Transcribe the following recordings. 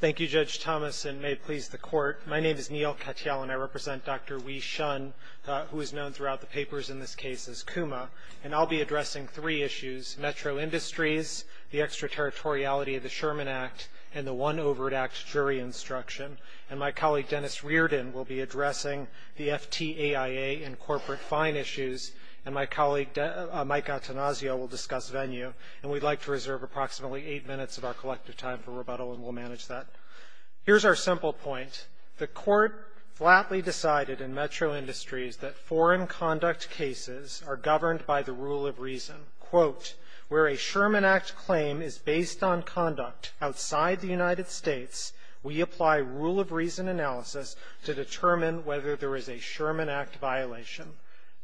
Thank you, Judge Thomas, and may it please the Court, my name is Neal Katyal, and I represent Dr. Hui Hsiung, who is known throughout the papers in this case as Kuma, and I'll be addressing three issues, Metro Industries, the extraterritoriality of the Sherman Act, and the One Overt Act jury instruction. And my colleague, Dennis Reardon, will be addressing the FTAIA and corporate fine issues, and my colleague, Mike Antonazio, will discuss venue. And we'd like to reserve approximately eight minutes of our collective time for rebuttal, and we'll manage that. Here's our simple point. The Court flatly decided in Metro Industries that foreign conduct cases are governed by the rule of reason, quote, where a Sherman Act claim is based on conduct outside the United States, we apply rule of reason analysis to determine whether there is a Sherman Act violation.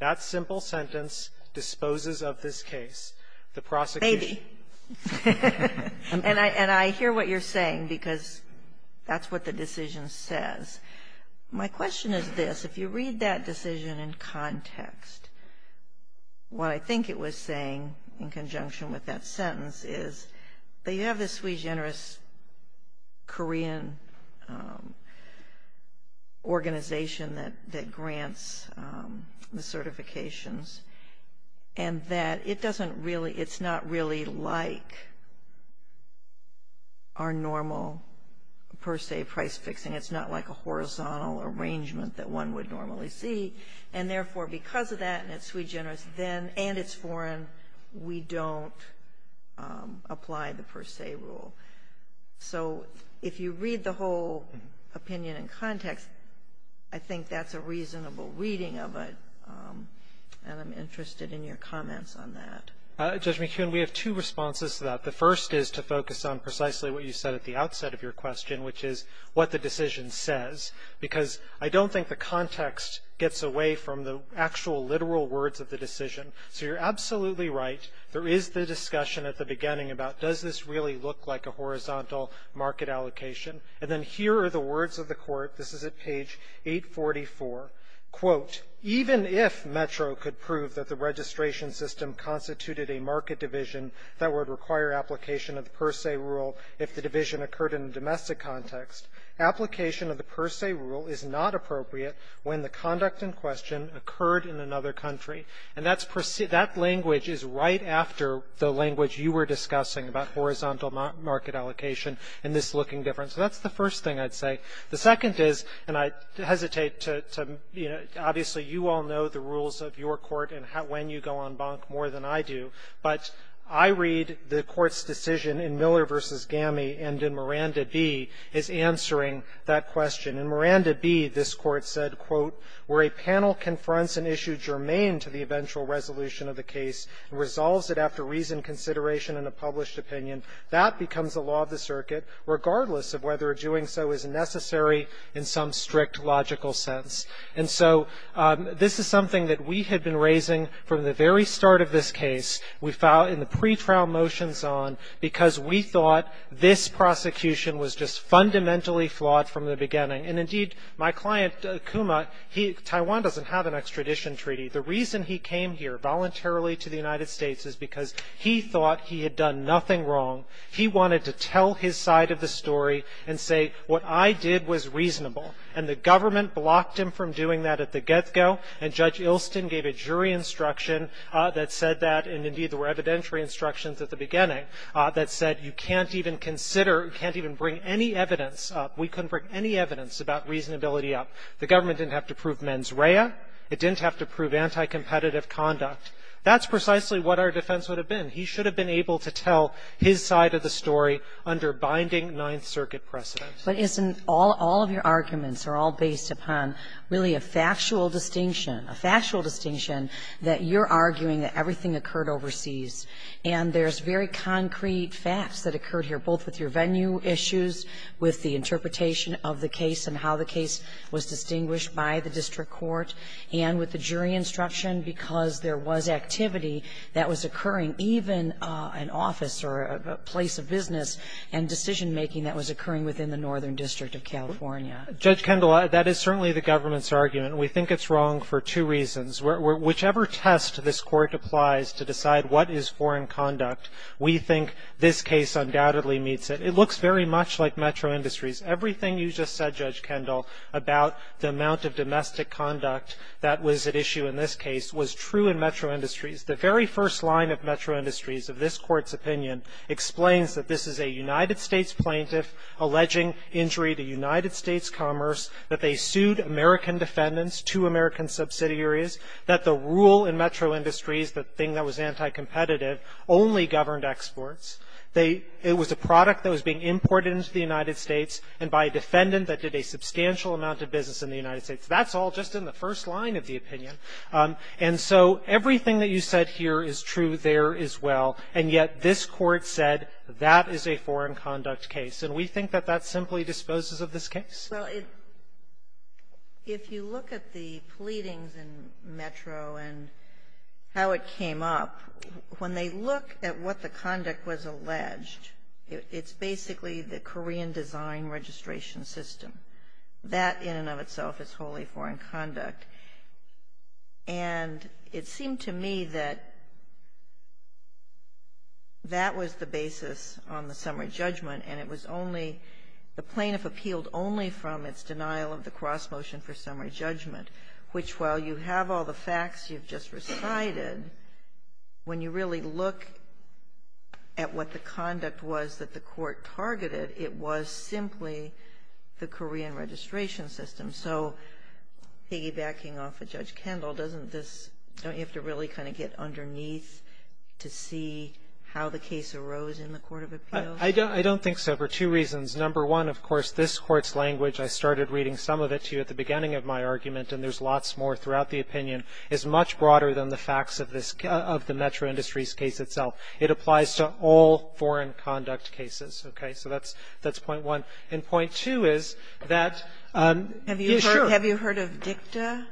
That simple sentence disposes of this case. The prosecution. Maybe. And I hear what you're saying because that's what the decision says. My question is this. If you read that decision in context, what I think it was saying in conjunction with that sentence is that you have this sui generis Korean organization that grants the certifications and that it doesn't really, it's not really like our normal per se price fixing. It's not like a horizontal arrangement that one would normally see. And, therefore, because of that and it's sui generis and it's foreign, we don't apply the per se rule. So if you read the whole opinion in context, I think that's a reasonable reading of it. And I'm interested in your comments on that. Judge McKeon, we have two responses to that. The first is to focus on precisely what you said at the outset of your question, which is what the decision says. Because I don't think the context gets away from the actual literal words of the decision. So you're absolutely right. There is the discussion at the beginning about does this really look like a horizontal market allocation. And then here are the words of the court. This is at page 844. Quote, even if Metro could prove that the registration system constituted a market division that would require application of the per se rule if the division occurred in a domestic context, application of the per se rule is not appropriate when the conduct in question occurred in another country. And that language is right after the language you were discussing about horizontal market allocation and this looking different. So that's the first thing I'd say. The second is, and I hesitate to, you know, obviously, you all know the rules of your court and when you go on bonk more than I do. But I read the court's decision in Miller v. Gammie and in Miranda B. is answering that question. In Miranda B., this Court said, quote, where a panel confronts an issue germane to the eventual resolution of the case and resolves it after reasoned consideration in a published opinion, that becomes the law of the circuit regardless of whether doing so is necessary in some strict logical sense. And so this is something that we had been raising from the very start of this case. We filed in the pretrial motions on because we thought this prosecution was just fundamentally flawed from the beginning. And, indeed, my client, Kuma, he, Taiwan doesn't have an extradition treaty. The reason he came here voluntarily to the United States is because he thought he had done nothing wrong. He wanted to tell his side of the story and say what I did was reasonable. And the government blocked him from doing that at the get-go. And Judge Ilston gave a jury instruction that said that. And, indeed, there were evidentiary instructions at the beginning that said you can't even consider, can't even bring any evidence up, we couldn't bring any evidence about reasonability up. The government didn't have to prove mens rea. It didn't have to prove anti-competitive conduct. That's precisely what our defense would have been. He should have been able to tell his side of the story under binding Ninth Circuit precedent. But isn't all of your arguments are all based upon really a factual distinction, a factual distinction that you're arguing that everything occurred overseas, and there's very concrete facts that occurred here, both with your venue issues, with the interpretation of the case and how the case was distinguished by the district court, and with the jury instruction, because there was activity that was occurring, even an office or a place of business and decision-making that was occurring within the Northern District of California? Judge Kendall, that is certainly the government's argument. We think it's wrong for two reasons. Whichever test this Court applies to decide what is foreign conduct, we think this case undoubtedly meets it. It looks very much like Metro Industries. Everything you just said, Judge Kendall, about the amount of domestic conduct that was at issue in this case was true in Metro Industries. The very first line of Metro Industries of this Court's opinion explains that this is a United States plaintiff alleging injury to United States commerce, that they rule in Metro Industries, the thing that was anti-competitive, only governed exports. They – it was a product that was being imported into the United States and by a defendant that did a substantial amount of business in the United States. That's all just in the first line of the opinion. And so everything that you said here is true there as well, and yet this Court said that is a foreign conduct case. And we think that that simply disposes of this case. Well, if you look at the pleadings in Metro and how it came up, when they look at what the conduct was alleged, it's basically the Korean design registration system. That in and of itself is wholly foreign conduct. And it seemed to me that that was the basis on the summary judgment, and it was only – it was only from its denial of the cross-motion for summary judgment, which while you have all the facts you've just recited, when you really look at what the conduct was that the Court targeted, it was simply the Korean registration system. So piggybacking off of Judge Kendall, doesn't this – don't you have to really kind of get underneath to see how the case arose in the court of appeals? I don't think so, for two reasons. Number one, of course, this Court's language, I started reading some of it to you at the beginning of my argument, and there's lots more throughout the opinion, is much broader than the facts of this – of the Metro Industries case itself. It applies to all foreign conduct cases. Okay? So that's – that's point one. And point two is that – Sotomayor, have you heard of dicta?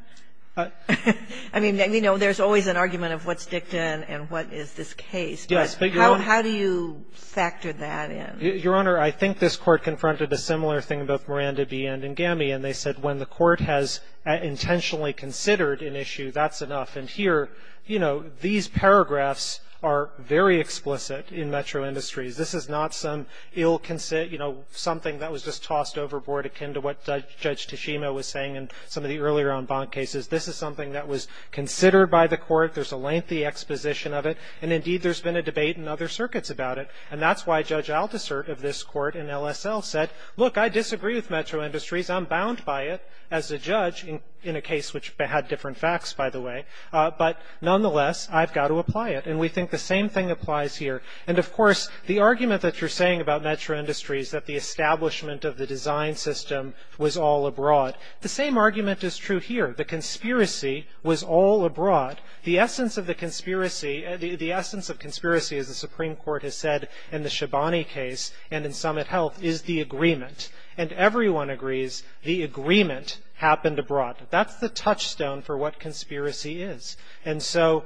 I mean, you know, there's always an argument of what's dicta and what is this case. But how do you factor that in? Your Honor, I think this Court confronted a similar thing in both Miranda v. Endangami, and they said when the Court has intentionally considered an issue, that's enough. And here, you know, these paragraphs are very explicit in Metro Industries. This is not some ill – you know, something that was just tossed overboard akin to what Judge Tashima was saying in some of the earlier en banc cases. This is something that was considered by the Court. There's a lengthy exposition of it. And indeed, there's been a debate in other circuits about it. And that's why Judge Aldiser of this Court in LSL said, look, I disagree with Metro Industries. I'm bound by it as a judge in a case which had different facts, by the way. But nonetheless, I've got to apply it. And we think the same thing applies here. And of course, the argument that you're saying about Metro Industries, that the establishment of the design system was all abroad, the same argument is true here. The conspiracy was all abroad. The essence of the conspiracy – the essence of conspiracy, as the Supreme Court has said in the Shabani case and in Summit Health, is the agreement. And everyone agrees the agreement happened abroad. That's the touchstone for what conspiracy is. And so,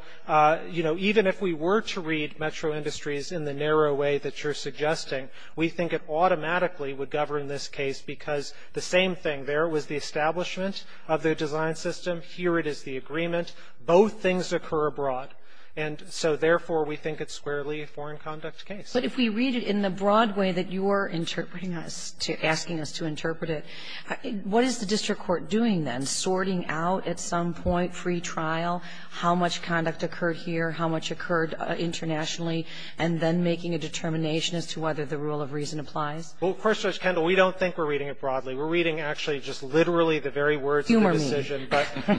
you know, even if we were to read Metro Industries in the narrow way that you're suggesting, we think it automatically would govern this case because the same thing. There was the establishment of the design system. Here it is the agreement. Both things occur abroad. And so, therefore, we think it's squarely a foreign conduct case. Kagan. But if we read it in the broad way that you are interpreting us, asking us to interpret it, what is the district court doing then, sorting out at some point, free trial, how much conduct occurred here, how much occurred internationally, and then making a determination as to whether the rule of reason applies? Well, of course, Judge Kendall, we don't think we're reading it broadly. We're reading actually just literally the very words of the decision. Humor me.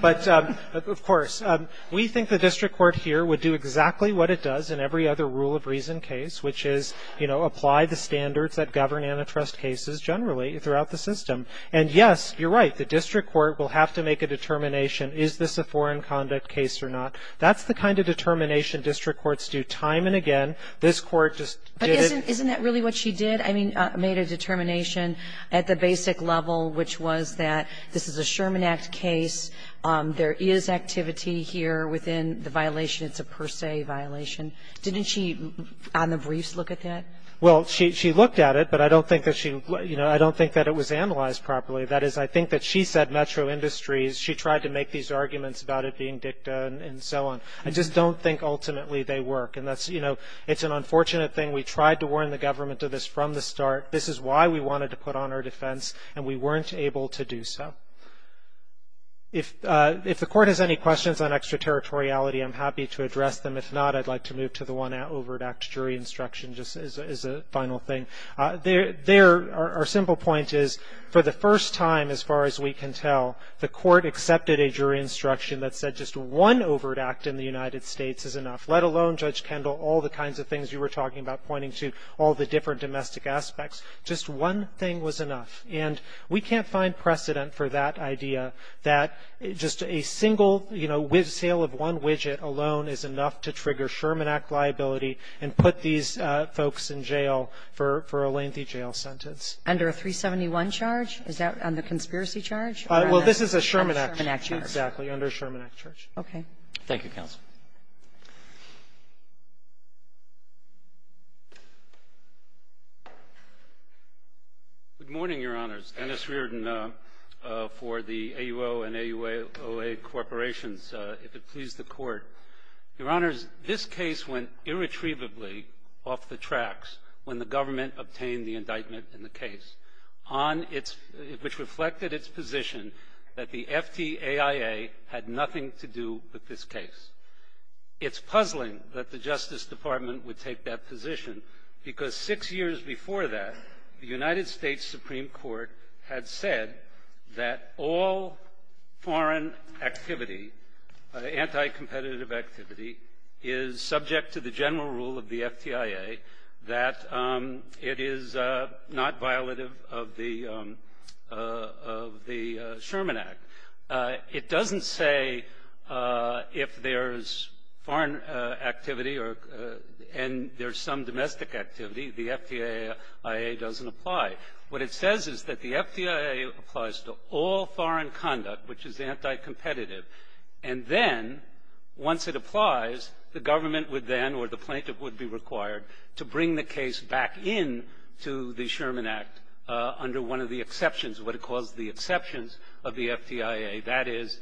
But, of course, we think the district court here would do exactly what it does in every other rule of reason case, which is, you know, apply the standards that govern antitrust cases generally throughout the system. And, yes, you're right, the district court will have to make a determination, is this a foreign conduct case or not? That's the kind of determination district courts do time and again. This Court just did it. But isn't that really what she did? I mean, made a determination at the basic level, which was that this is a Sherman Act case. There is activity here within the violation. It's a per se violation. Didn't she, on the briefs, look at that? Well, she looked at it, but I don't think that she, you know, I don't think that it was analyzed properly. That is, I think that she said metro industries. She tried to make these arguments about it being dicta and so on. I just don't think ultimately they work. And that's, you know, it's an unfortunate thing. We tried to warn the government of this from the start. This is why we wanted to put on our defense, and we weren't able to do so. If the Court has any questions on extraterritoriality, I'm happy to address them. If not, I'd like to move to the one overt act jury instruction just as a final thing. There, our simple point is, for the first time, as far as we can tell, the Court accepted a jury instruction that said just one overt act in the United States is enough, let alone Judge Kendall, all the kinds of things you were talking about pointing to, all the different domestic aspects. Just one thing was enough. And we can't find precedent for that idea, that just a single, you know, sale of one widget alone is enough to trigger Sherman Act liability and put these folks in jail for a lengthy jail sentence. Under a 371 charge? Is that on the conspiracy charge? Well, this is a Sherman Act charge. Okay. Thank you, counsel. Good morning, Your Honors. Dennis Reardon for the AUO and AUOA corporations, if it please the Court. Your Honors, this case went irretrievably off the tracks when the government obtained the indictment in the case, on its ‑‑ which reflected its position that the FTAIA had nothing to do with this case. It's puzzling that the Justice Department would take that position, because six years before that, the United States Supreme Court had said that all foreign activity, anti‑competitive activity, is subject to the general rule of the FTAIA, that it is not violative of the Sherman Act. It doesn't say if there's foreign activity or ‑‑ and there's some domestic activity, the FTAIA doesn't apply. What it says is that the FTAIA applies to all foreign conduct, which is anti‑competitive, and then, once it applies, the government would then, or the plaintiff would be required, to bring the case back in to the Sherman Act under one of the exceptions, what it calls the exceptions of the FTAIA, that is,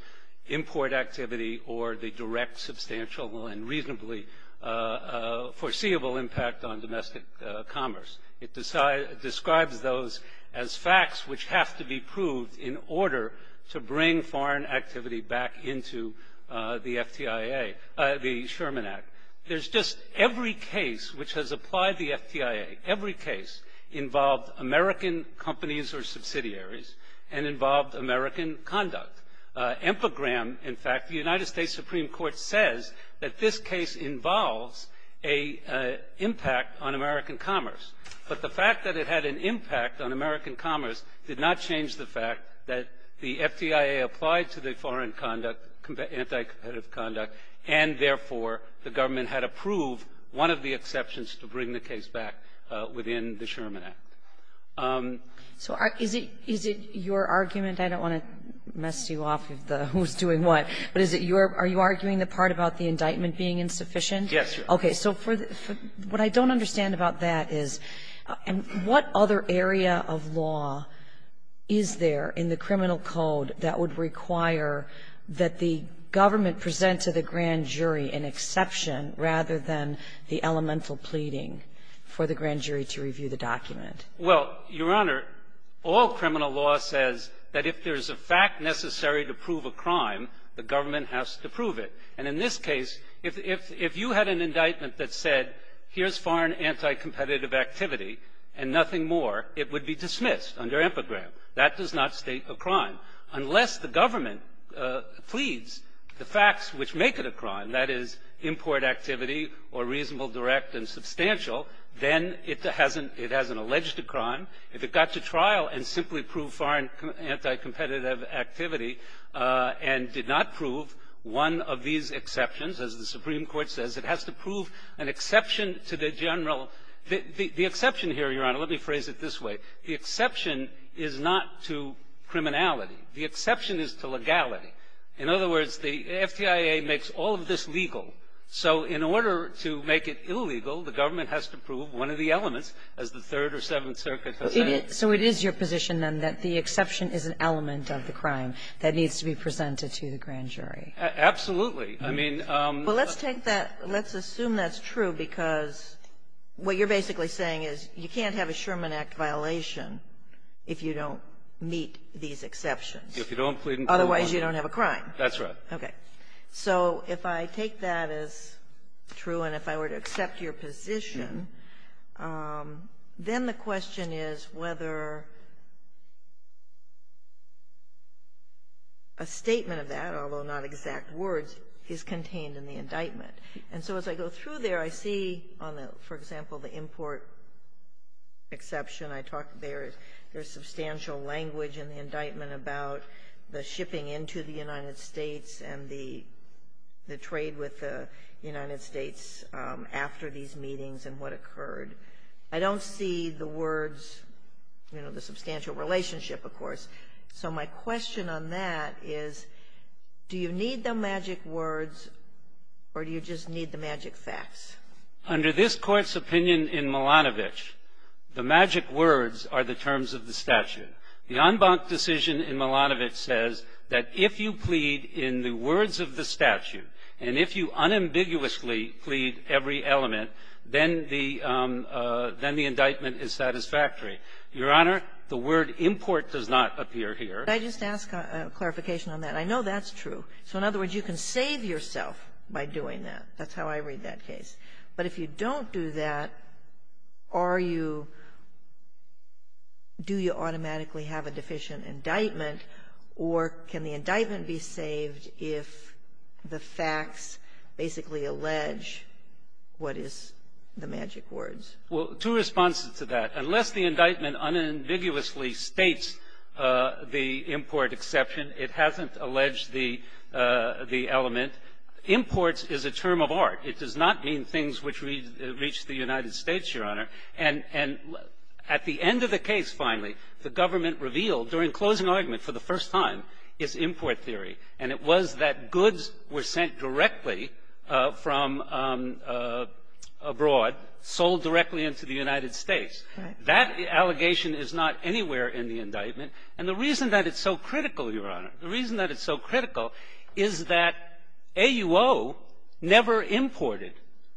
import activity or the direct, substantial, and reasonably foreseeable impact on domestic commerce. It describes those as facts which have to be proved in order to bring foreign activity back in to the FTAIA, the Sherman Act. There's just every case which has applied the FTAIA, every case involved American companies or subsidiaries, and involved American conduct. Empagram, in fact, the United States Supreme Court says that this case involves an impact on American commerce, but the fact that it had an impact on American commerce did not change the fact that the FTAIA applied to the foreign conduct, anti‑competitive conduct, and, therefore, the government had approved one of the exceptions to bring the case back within the Sherman Act. Kagan. So is it your argument? I don't want to mess you off of the who's doing what. But is it your ‑‑ are you arguing the part about the indictment being insufficient? Yes, Your Honor. Okay. So for the ‑‑ what I don't understand about that is, what other area of law is there in the criminal code that would require that the government present to the grand jury an exception rather than the elemental pleading for the grand jury to review the document? Well, Your Honor, all criminal law says that if there's a fact necessary to prove a crime, the government has to prove it. And in this case, if you had an indictment that said, here's foreign anti‑competitive activity and nothing more, it would be dismissed under Empagram. That does not state a crime, unless the government pleads the facts which make it a crime, and that is import activity or reasonable, direct, and substantial. Then it hasn't ‑‑ it hasn't alleged a crime. If it got to trial and simply proved foreign anti‑competitive activity and did not prove one of these exceptions, as the Supreme Court says, it has to prove an exception to the general ‑‑ the exception here, Your Honor, let me phrase it this way. The exception is not to criminality. The exception is to legality. In other words, the FTIA makes all of this legal. So in order to make it illegal, the government has to prove one of the elements, as the Third or Seventh Circuit has said. So it is your position, then, that the exception is an element of the crime that needs to be presented to the grand jury? Absolutely. I mean ‑‑ Well, let's take that ‑‑ let's assume that's true, because what you're basically saying is you can't have a Sherman Act violation if you don't meet these exceptions. If you don't plead ‑‑ Otherwise you don't have a crime. That's right. Okay. So if I take that as true and if I were to accept your position, then the question is whether a statement of that, although not exact words, is contained in the indictment. And so as I go through there, I see on the, for example, the import exception, I talk there, there's substantial language in the indictment about the shipping into the United States and the trade with the United States after these meetings and what occurred. I don't see the words, you know, the substantial relationship, of course. So my question on that is, do you need the magic words or do you just need the magic facts? Under this Court's opinion in Milanovic, the magic words are the terms of the statute. The en banc decision in Milanovic says that if you plead in the words of the statute and if you unambiguously plead every element, then the indictment is satisfactory. Your Honor, the word import does not appear here. Can I just ask a clarification on that? I know that's true. So in other words, you can save yourself by doing that. That's how I read that case. But if you don't do that, are you do you automatically have a deficient indictment or can the indictment be saved if the facts basically allege what is the magic words? Well, two responses to that. Unless the indictment unambiguously states the import exception, it hasn't alleged the element. Imports is a term of art. It does not mean things which reach the United States, Your Honor. And at the end of the case, finally, the government revealed, during closing argument for the first time, its import theory. And it was that goods were sent directly from abroad, sold directly into the United States. That allegation is not anywhere in the indictment. And the reason that it's so critical, Your Honor, the reason that it's so critical is that AUO never imported,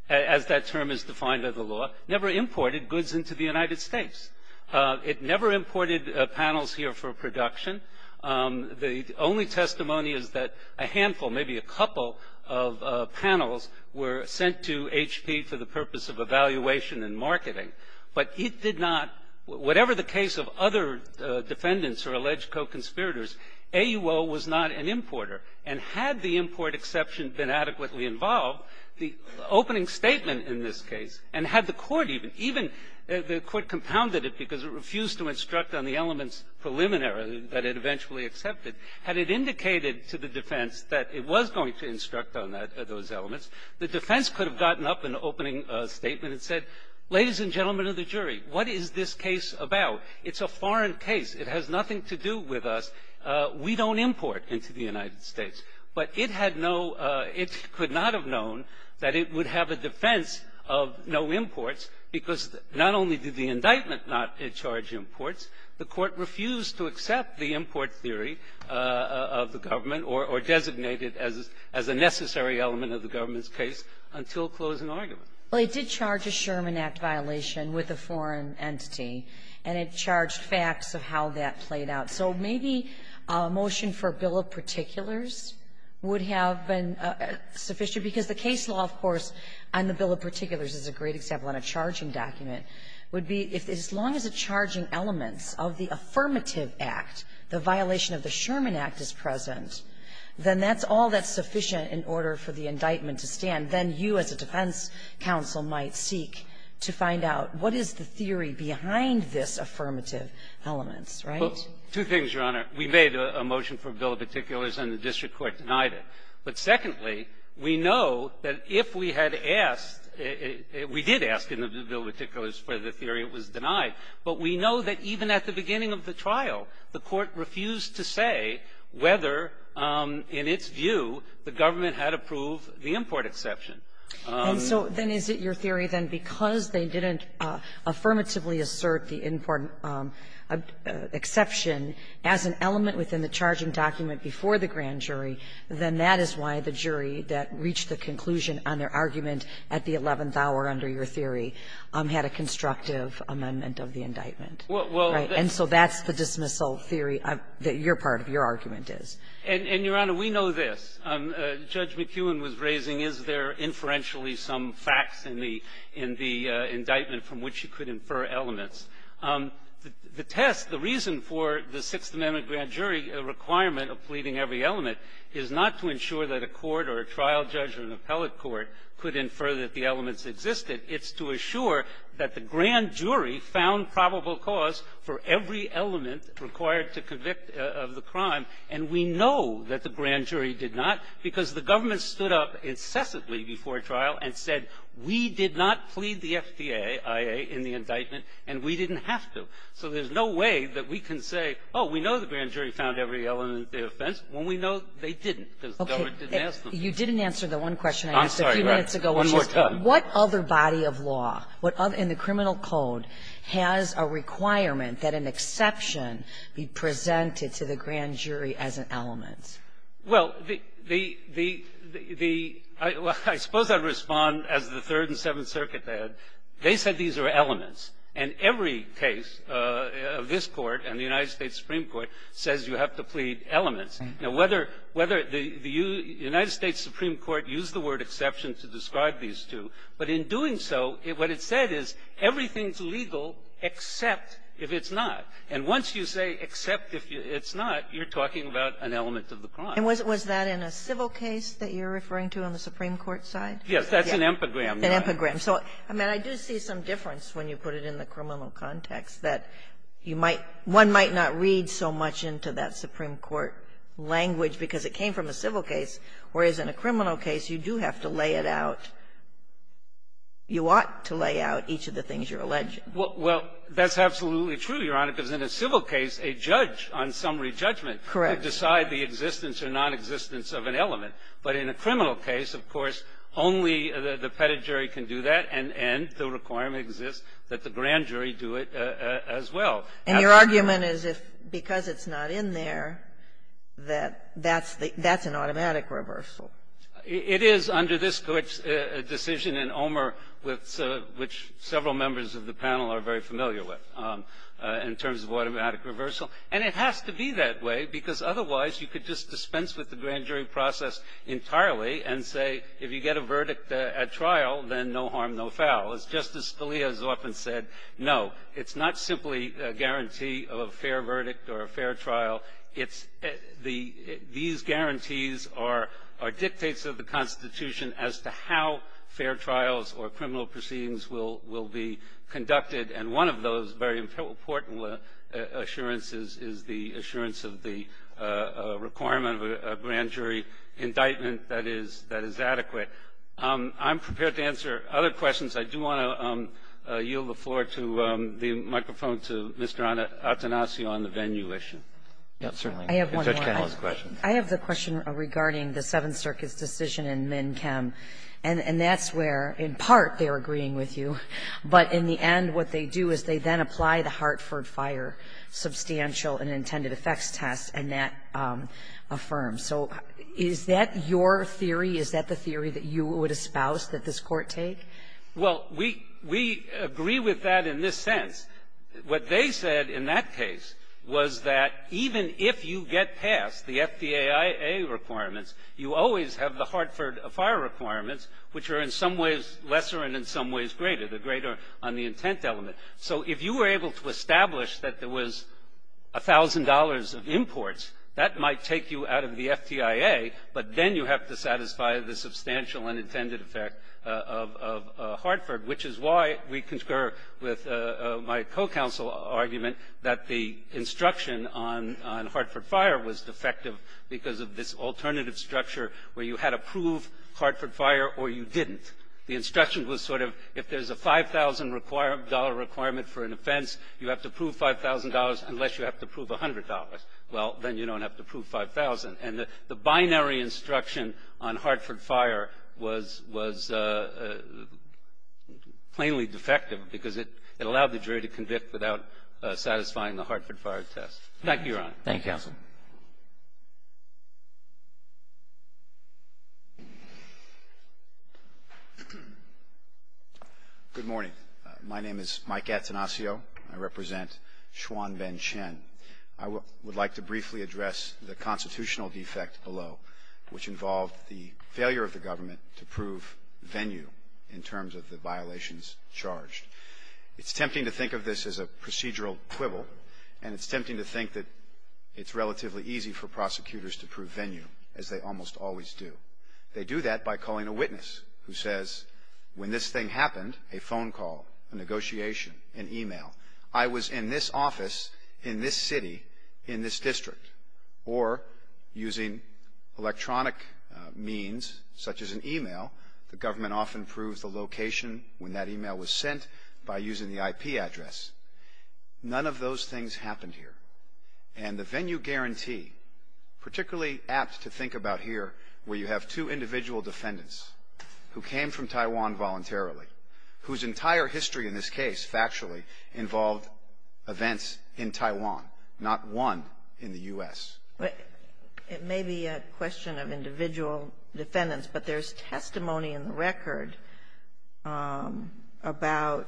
as that term is defined by the law, never imported goods into the United States. It never imported panels here for production. The only testimony is that a handful, maybe a couple, of panels were sent to HP for the purpose of evaluation and marketing. But it did not, whatever the case of other defendants or alleged co-conspirators, AUO was not an importer. And had the import exception been adequately involved, the opening statement in this case, and had the Court even, even the Court compounded it because it refused to instruct on the elements preliminary that it eventually accepted, had it indicated to the defense that it was going to instruct on that, those elements, the defense could have gotten up in the opening statement and said, ladies and gentlemen of the jury, what is this case about? It's a foreign case. It has nothing to do with us. We don't import into the United States. But it had no, it could not have known that it would have a defense of no imports because not only did the indictment not charge imports, the Court refused to accept the import theory of the government or, or designate it as, as a necessary element of the government's case until closing argument. Well, it did charge a Sherman Act violation with a foreign entity, and it charged facts of how that played out. So maybe a motion for a bill of particulars would have been sufficient because the case law, of course, on the bill of particulars is a great example, on a charging element of the affirmative act, the violation of the Sherman Act is present, then that's all that's sufficient in order for the indictment to stand. Then you as a defense counsel might seek to find out what is the theory behind this affirmative element, right? Well, two things, Your Honor. We made a motion for a bill of particulars, and the district court denied it. But secondly, we know that if we had asked, we did ask in the bill of particulars for the theory, it was denied. But we know that even at the beginning of the trial, the Court refused to say whether, in its view, the government had approved the import exception. And so then is it your theory then because they didn't affirmatively assert the import exception as an element within the charging document before the grand jury, then that is why the jury that reached the conclusion on their argument at the eleventh hour under your theory had a constructive amendment of the indictment, right? And so that's the dismissal theory that your part of your argument is. And, Your Honor, we know this. Judge McEwen was raising, is there inferentially some facts in the indictment from which you could infer elements? The test, the reason for the Sixth Amendment grand jury requirement of pleading every element is not to ensure that a court or a trial judge or an appellate court could infer that the elements existed. It's to assure that the grand jury found probable cause for every element required to convict of the crime. And we know that the grand jury did not, because the government stood up incessantly before trial and said, we did not plead the FDA, IA, in the indictment, and we didn't have to. So there's no way that we can say, oh, we know the grand jury found every element of the offense, when we know they didn't, because the government didn't ask them. Okay. You didn't answer the one question I asked a few minutes ago. I'm sorry. One more time. Which is, what other body of law in the criminal code has a requirement that an exception be presented to the grand jury as an element? Well, the — I suppose I'd respond as the Third and Seventh Circuit had. They said these are elements. And every case of this Court and the United States Supreme Court says you have to plead elements. Now, whether the United States Supreme Court used the word exception to describe these two, but in doing so, what it said is, everything's legal except if it's not. And once you say except if it's not, you're talking about an element of the crime. And was that in a civil case that you're referring to on the Supreme Court side? Yes. That's an epigram. An epigram. So, I mean, I do see some difference when you put it in the criminal context, that you might — one might not read so much into that Supreme Court language because it came from a civil case, whereas in a criminal case, you do have to lay it out. You ought to lay out each of the things you're alleging. Well, that's absolutely true, Your Honor, because in a civil case, a judge on summary judgment can decide the existence or nonexistence of an element. But in a criminal case, of course, only the petit jury can do that, and the requirement exists that the grand jury do it as well. And your argument is if because it's not in there, that that's the — that's an automatic reversal. It is under this Court's decision, and Omer, which several members of the panel are very familiar with, in terms of automatic reversal. And it has to be that way because otherwise you could just dispense with the grand jury process entirely and say, if you get a verdict at trial, then no harm, no foul. As Justice Scalia has often said, no, it's not simply a guarantee of a fair verdict or a fair trial. It's the — these guarantees are dictates of the Constitution as to how fair trials or criminal proceedings will be conducted. And one of those very important assurances is the assurance of the requirement of a grand jury indictment that is adequate. I'm prepared to answer other questions. I do want to yield the floor to the microphone to Mr. Attanasio on the venue issue. I have one more. I have the question regarding the Seventh Circuit's decision in MnChem. And that's where, in part, they're agreeing with you. But in the end, what they do is they then apply the Hartford Fire substantial and intended effects test, and that affirms. So is that your theory? Is that the theory that you would espouse that this Court take? Well, we — we agree with that in this sense. What they said in that case was that even if you get past the FDIAA requirements, you always have the Hartford Fire requirements, which are in some ways lesser and in some ways greater, the greater on the intent element. So if you were able to establish that there was $1,000 of imports, that might take you out of the FDIA, but then you have to satisfy the substantial and intended effect of Hartford, which is why we concur with my co-counsel argument that the instruction on Hartford Fire was defective because of this alternative structure where you had to prove Hartford Fire or you didn't. The instruction was sort of, if there's a $5,000 requirement for an offense, you have to prove $5,000 unless you have to prove $100. Well, then you don't have to prove $100. So the binary instruction on Hartford Fire was — was plainly defective because it — it allowed the jury to convict without satisfying the Hartford Fire test. Thank you, Your Honor. Thank you, counsel. Good morning. My name is Mike Attenasio. I represent Chuan Van Chen. I would like to briefly address the constitutional defect below. The constitutional defect below is a procedural quibble which involved the failure of the government to prove venue in terms of the violations charged. It's tempting to think of this as a procedural quibble, and it's tempting to think that it's relatively easy for prosecutors to prove venue, as they almost always do. They do that by calling a witness who says, when this thing happened, a phone call, a negotiation, an email, I was in this office, in this city, in this district, or using electronic means, such as an email. The government often proves the location when that email was sent by using the IP address. None of those things happened here. And the venue guarantee, particularly apt to think about here, where you have two individual defendants who came from Taiwan voluntarily, whose entire history in this case, factually, involved events in Taiwan, not one in the U.S. It may be a question of individual defendants, but there's testimony in the record about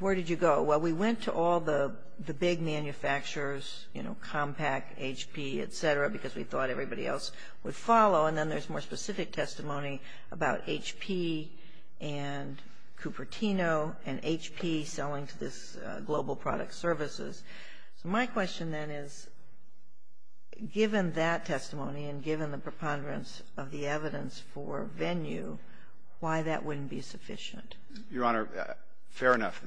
where did you go. Well, we went to all the big manufacturers, you know, Compaq, HP, et cetera, because we thought everybody else would follow. And then there's more specific testimony about HP and Cupertino and HP selling to this Global Product Services. So my question, then, is, given that testimony and given the preponderance of the evidence for venue, why that wouldn't be sufficient? Your Honor, fair enough.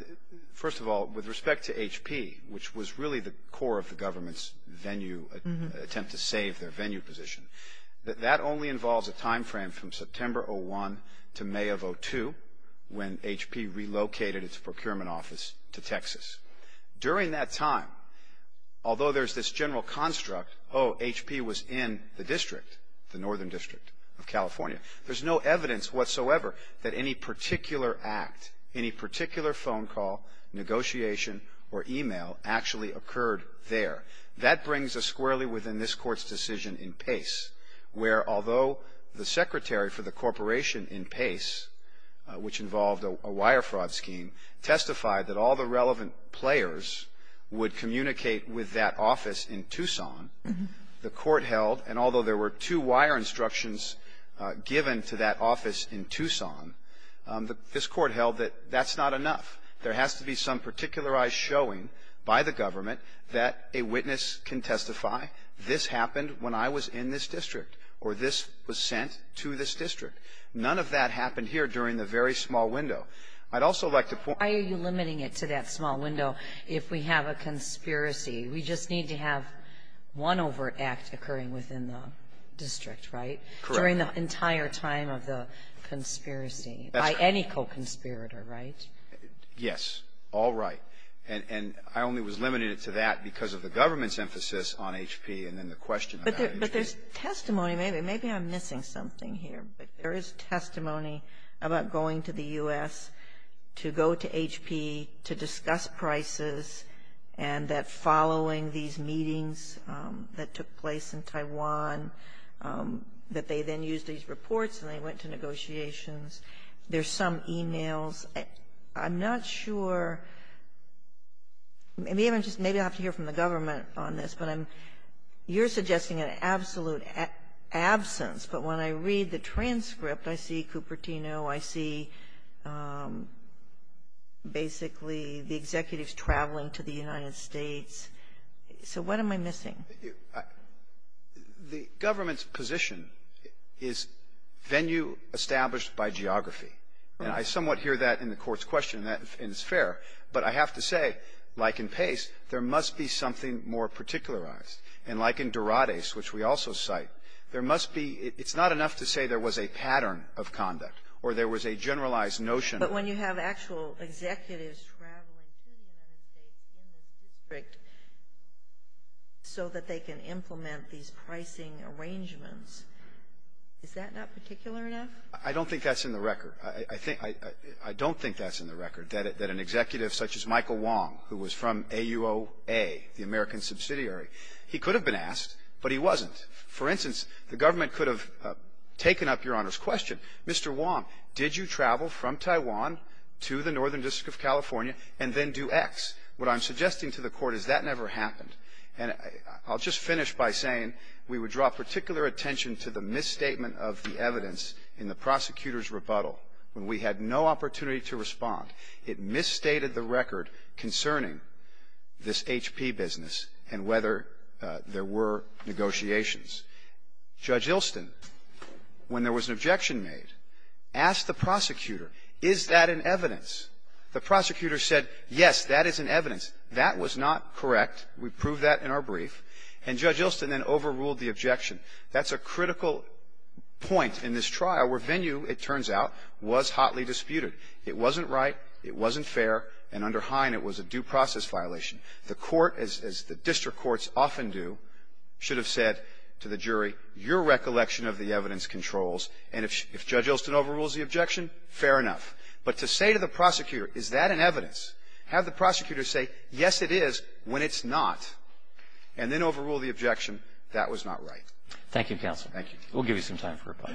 First of all, with respect to HP, which was really the core of the government's venue attempt to save their venue position, that that only involves a time frame from September of 2001 to May of 2002, when HP relocated its procurement office to Texas. During that time, although there's this general construct, oh, HP was in the district, the Northern District of California, there's no evidence whatsoever that any particular act, any particular phone call, negotiation, or email actually occurred there. That brings us squarely within this Court's decision in Pace, where although the secretary for the corporation in Pace, which involved a wire fraud scheme, testified that all the relevant players would communicate with that office in Tucson, the Court held, and although there were two wire instructions given to that office in Tucson, this Court held that that's not enough. There has to be some particularized showing by the government that a witness can testify, this happened when I was in this district, or this was sent to this district. None of that happened here during the very small window. I'd also like to point out, why are you limiting it to that small window if we have a conspiracy? We just need to have one overt act occurring within the district, right? During the entire time of the conspiracy by any co-conspirator, right? Yes. All right. And I only was limited to that because of the government's emphasis on HP and then the question about HP. But there's testimony. Maybe I'm missing something here, but there is testimony about going to the U.S. to go to HP to discuss prices and that following these meetings that took place in Taiwan, that they then used these reports and they went to negotiations. There's some e-mails. I'm not sure. Maybe I'll have to hear from the government on this, but I'm you're suggesting an absolute absence. But when I read the transcript, I see Cupertino. I see basically the executives traveling to the United States. So what am I missing? The government's position is venue established by geography. And I somewhat hear that in the Court's question, and that is fair. But I have to say, like in Pace, there must be something more particularized. And like in Dorades, which we also cite, there must be – it's not enough to say there was a pattern of conduct or there was a generalized notion. But when you have actual executives traveling to the United States in the district so that they can implement these pricing arrangements, is that not particular enough? I don't think that's in the record. I don't think that's in the record, that an executive such as Michael Wong, who was from AUOA, the American subsidiary, he could have been asked, but he wasn't. For instance, the government could have taken up Your Honor's question, Mr. Wong, did you travel from Taiwan to the Northern District of California and then do X? What I'm suggesting to the Court is that never happened. And I'll just finish by saying we would draw particular attention to the misstatement of the evidence in the prosecutor's rebuttal when we had no opportunity to respond. It misstated the record concerning this HP business and whether there were negotiations. Judge Ilston, when there was an objection made, asked the prosecutor, is that an evidence? The prosecutor said, yes, that is an evidence. That was not correct. We proved that in our brief. And Judge Ilston then overruled the objection. That's a critical point in this trial where venue, it turns out, was hotly disputed. It wasn't right. It wasn't fair. And under Hine, it was a due process violation. The Court, as the district courts often do, should have said to the jury, your recollection of the evidence controls, and if Judge Ilston overrules the objection, fair enough. But to say to the prosecutor, is that an evidence, have the prosecutor say, yes, it is, when it's not, and then overrule the objection, that was not right. Thank you, Counsel. Thank you. We'll give you some time for rebuttal.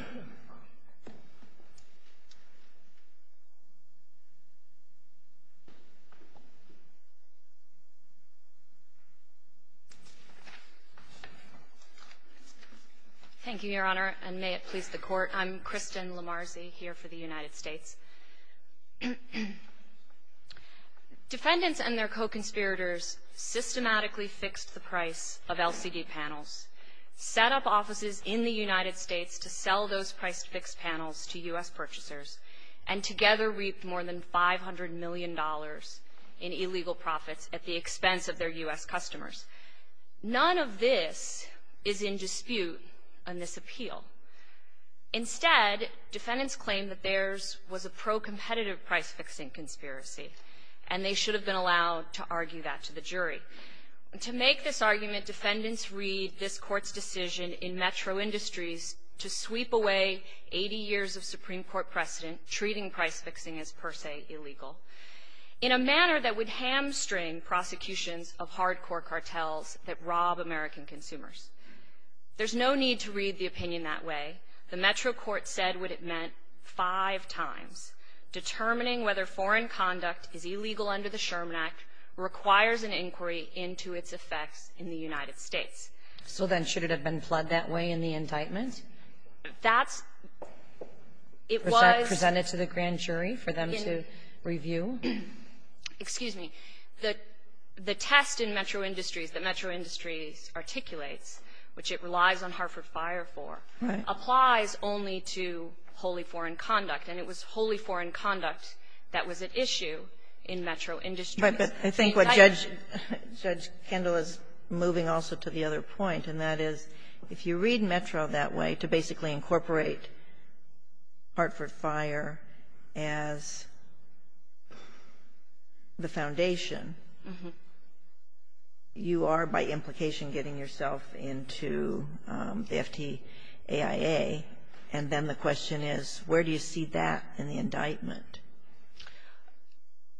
Thank you, Your Honor, and may it please the Court. I'm Kristen Lamarzi here for the United States. Defendants and their co-conspirators systematically fixed the price of LCD panels, set up offices in the United States to sell those price-fixed panels to U.S. purchasers, and together reaped more than $500 million in illegal profits at the expense of their U.S. customers. None of this is in dispute in this appeal. Instead, defendants claim that theirs was a pro-competitive price-fixing conspiracy, and they should have been allowed to argue that to the jury. To make this argument, defendants read this Court's decision in Metro Industries to sweep away 80 years of Supreme Court precedent, treating price-fixing as per se illegal, in a manner that would hamstring prosecutions of hardcore cartels that rob American consumers. There's no need to read the opinion that way. The Metro Court said what it meant five times. Determining whether foreign conduct is illegal under the Sherman Act requires an inquiry into its effects in the United States. Kagan. So then should it have been fled that way in the indictment? Lamarzi. That's – it was – Kagan. Was that presented to the grand jury for them to review? Lamarzi. Excuse me. The test in Metro Industries that Metro Industries articulates, which it relies on Hartford Fire for, applies only to wholly foreign conduct. And it was wholly foreign conduct that was at issue in Metro Industries. Kagan. But I think what Judge Kendall is moving also to the other point, and that is if you read Metro that way to basically incorporate Hartford Fire as the foundation, you are by implication getting yourself into the FTAIA. And then the question is, where do you see that in the indictment? Lamarzi.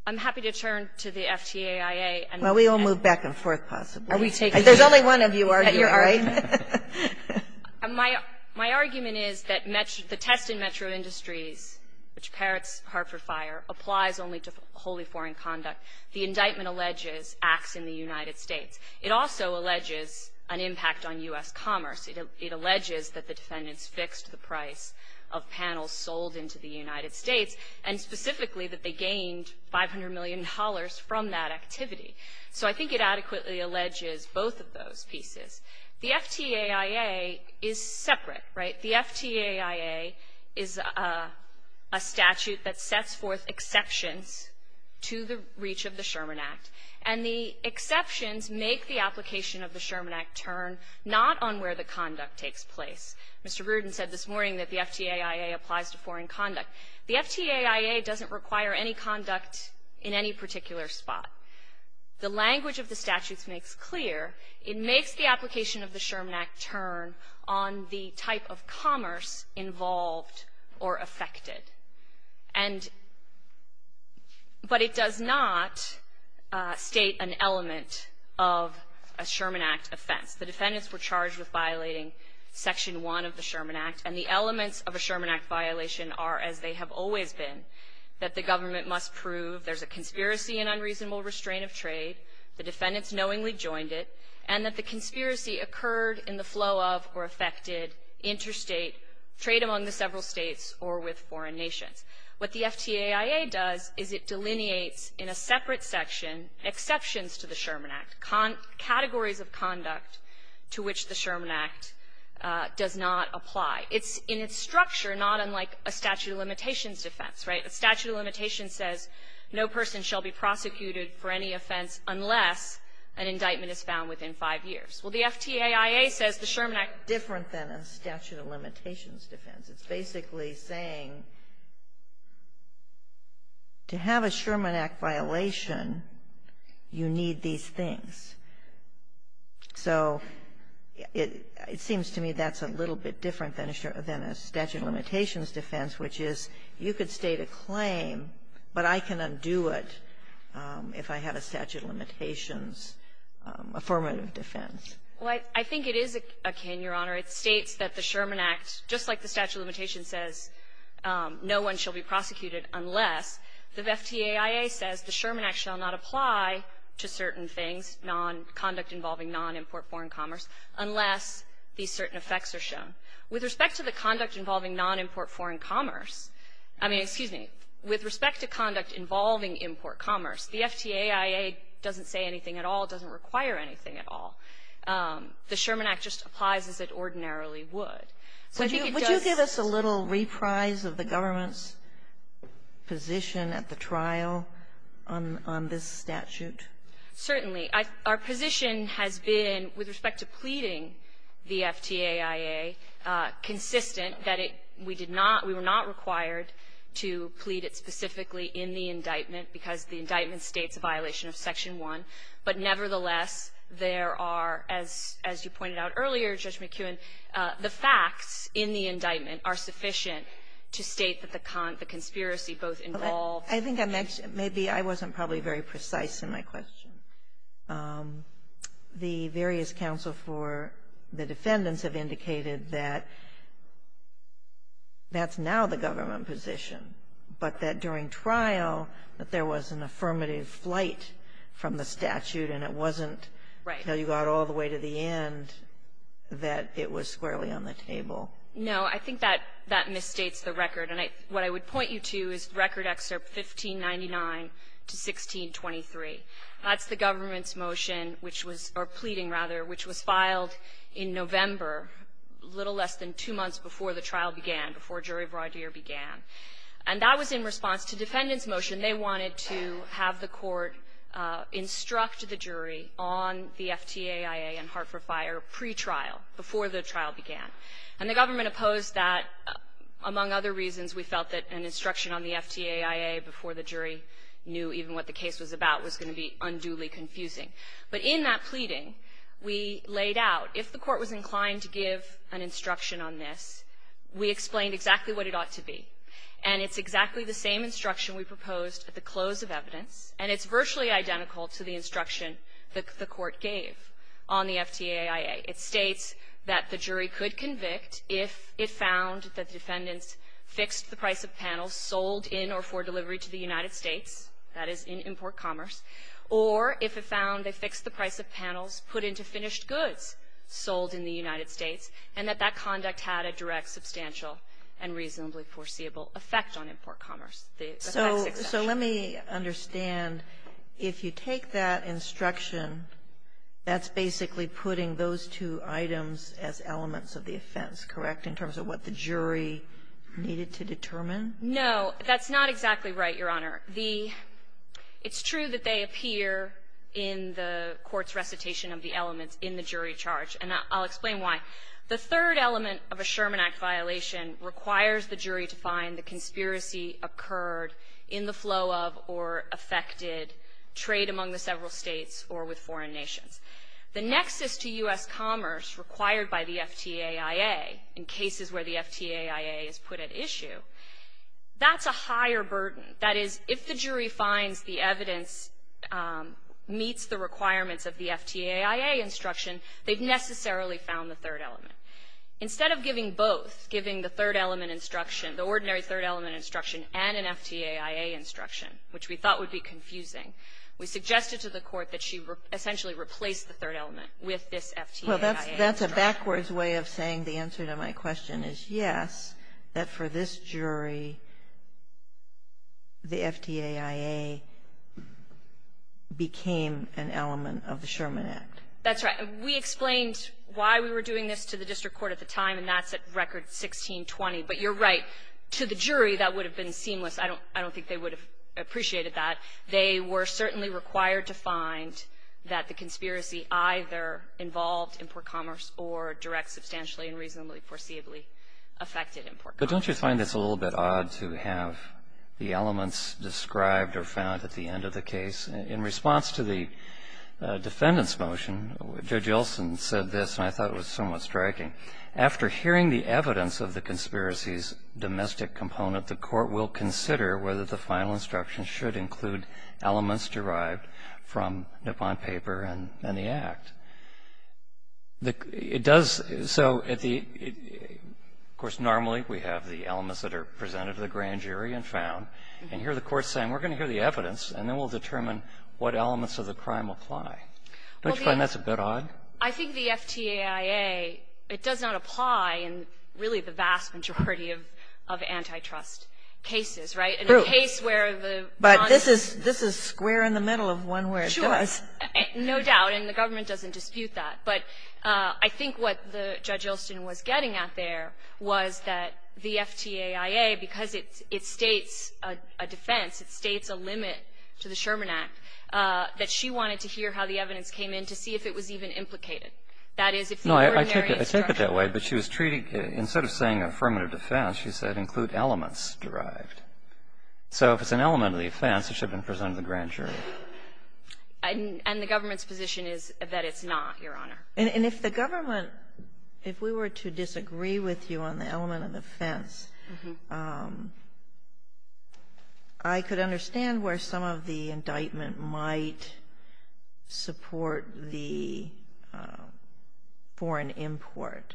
I'm happy to turn to the FTAIA. Kagan. Well, we all move back and forth, possibly. Lamarzi. Are we taking – Kagan. There's only one of you arguing, right? Lamarzi. You're arguing. My – my argument is that the test in Metro Industries, which parrots Hartford Fire, applies only to wholly foreign conduct. The indictment alleges acts in the United States. It also alleges an impact on U.S. commerce. It alleges that the defendants fixed the price of panels sold into the United States, and specifically that they gained $500 million from that activity. So I think it adequately alleges both of those pieces. The FTAIA is separate, right? The FTAIA is a statute that sets forth exceptions to the reach of the Sherman Act. And the exceptions make the application of the Sherman Act turn not on where the conduct takes place. Mr. Rudin said this morning that the FTAIA applies to foreign conduct. The FTAIA doesn't require any conduct in any particular spot. The language of the statutes makes clear it makes the application of the Sherman Act turn on the type of commerce involved or affected. And but it does not state an element of a Sherman Act offense. The defendants were charged with violating Section 1 of the Sherman Act, and the elements of a Sherman Act violation are, as they have always been, that the government must prove there's a conspiracy and unreasonable restraint of trade, the defendants knowingly joined it, and that the conspiracy occurred in the flow of or affected interstate trade among the several states or with foreign nations. What the FTAIA does is it delineates in a separate section exceptions to the Sherman Act, categories of conduct to which the Sherman Act does not apply. It's in its structure, not unlike a statute of limitations defense, right? A statute of limitations says no person shall be prosecuted for any offense unless an indictment is found within five years. Well, the FTAIA says the Sherman Act is different than a statute of limitations defense. It's basically saying to have a Sherman Act violation, you need these things. So it seems to me that's a little bit different than a statute of limitations defense, which is you could state a claim, but I can undo it if I have a statute of limitations affirmative defense. Well, I think it is akin, Your Honor. It states that the Sherman Act, just like the statute of limitations says no one shall be prosecuted unless, the FTAIA says the Sherman Act shall not apply to certain things, non-conduct involving non-import foreign commerce, unless these certain effects are shown. With respect to the conduct involving non-import foreign commerce, I mean, excuse me, with respect to conduct involving import commerce, the FTAIA doesn't say anything at all, doesn't require anything at all. The Sherman Act just applies as it ordinarily would. So I think it does the same thing. Sotomayor, would you give us a little reprise of the government's position at the trial on this statute? Certainly. Our position has been, with respect to pleading the FTAIA, consistent that it we did not, we were not required to plead it specifically in the indictment because the indictment states a violation of Section 1. But nevertheless, there are, as you pointed out earlier, Judge McKeown, the facts in the indictment are sufficient to state that the conspiracy both involved the FTAIA. I think I mentioned, maybe I wasn't probably very precise in my question. The various counsel for the defendants have indicated that that's now the government position, but that during trial that there was an affirmative flight from the statute and it wasn't until you got all the way to the end that it was squarely on the table. No. I think that that misstates the record. And what I would point you to is Record Excerpt 1599 to 1623. That's the government's motion which was, or pleading rather, which was filed in November, a little less than two months before the trial began, before Jury Broideur began. And that was in response to defendant's motion. They wanted to have the court instruct the jury on the FTAIA and Hart for Fire pretrial, before the trial began. And the government opposed that among other reasons. We felt that an instruction on the FTAIA before the jury knew even what the case was about was going to be unduly confusing. But in that pleading, we laid out, if the court was inclined to give an instruction on this, we explained exactly what it ought to be. And it's exactly the same instruction we proposed at the close of evidence, and it's virtually identical to the instruction that the court gave on the FTAIA. It states that the jury could convict if it found that the defendants fixed the price of panels sold in or for delivery to the United States, that is, in import commerce, or if it found they fixed the price of panels put into finished goods sold in the United States, and that that conduct had a direct, substantial, and reasonably foreseeable effect on import commerce. The effect is substantial. Kagan. So let me understand, if you take that instruction, that's basically putting those two items as elements of the offense, correct, in terms of what the jury needed to determine? No. That's not exactly right, Your Honor. The – it's true that they appear in the court's recitation of the elements in the jury charge, and I'll explain why. The third element of a Sherman Act violation requires the jury to find the conspiracy occurred in the flow of or affected trade among the several states or with foreign nations. The nexus to U.S. commerce required by the FTAIA in cases where the FTAIA is put at issue, that's a higher burden. That is, if the jury finds the evidence meets the requirements of the FTAIA instruction, they've necessarily found the third element. Instead of giving both, giving the third element instruction, the ordinary third element instruction, and an FTAIA instruction, which we thought would be confusing, we suggested to the Court that she essentially replace the third element with this FTAIA instruction. So that's a backwards way of saying the answer to my question is, yes, that for this jury, the FTAIA became an element of the Sherman Act. That's right. We explained why we were doing this to the district court at the time, and that's at record 1620. But you're right. To the jury, that would have been seamless. I don't think they would have appreciated that. They were certainly required to find that the conspiracy either involved import commerce or direct substantially and reasonably foreseeably affected import commerce. But don't you find this a little bit odd to have the elements described or found at the end of the case? In response to the defendant's motion, Judge Olson said this, and I thought it was somewhat striking. After hearing the evidence of the conspiracy's domestic component, the Court will consider whether the final instruction should include elements derived from Nippon Paper and the Act. It does so at the of course normally we have the elements that are presented to the grand jury and found. And here the Court is saying we're going to hear the evidence and then we'll determine what elements of the crime apply. Don't you find that's a bit odd? I think the FTAIA, it does not apply in really the vast majority of antitrust cases. Right? True. In a case where the bond. But this is square in the middle of one where it does. No doubt. And the government doesn't dispute that. But I think what Judge Olson was getting at there was that the FTAIA, because it states a defense, it states a limit to the Sherman Act, that she wanted to hear how the evidence came in to see if it was even implicated. That is, if the ordinary instruction. No, I take it that way. But she was treating, instead of saying affirmative defense, she said include elements derived. So if it's an element of the offense, it should have been presented to the grand jury. And the government's position is that it's not, Your Honor. And if the government, if we were to disagree with you on the element of the offense, I could understand where some of the indictment might support the foreign import.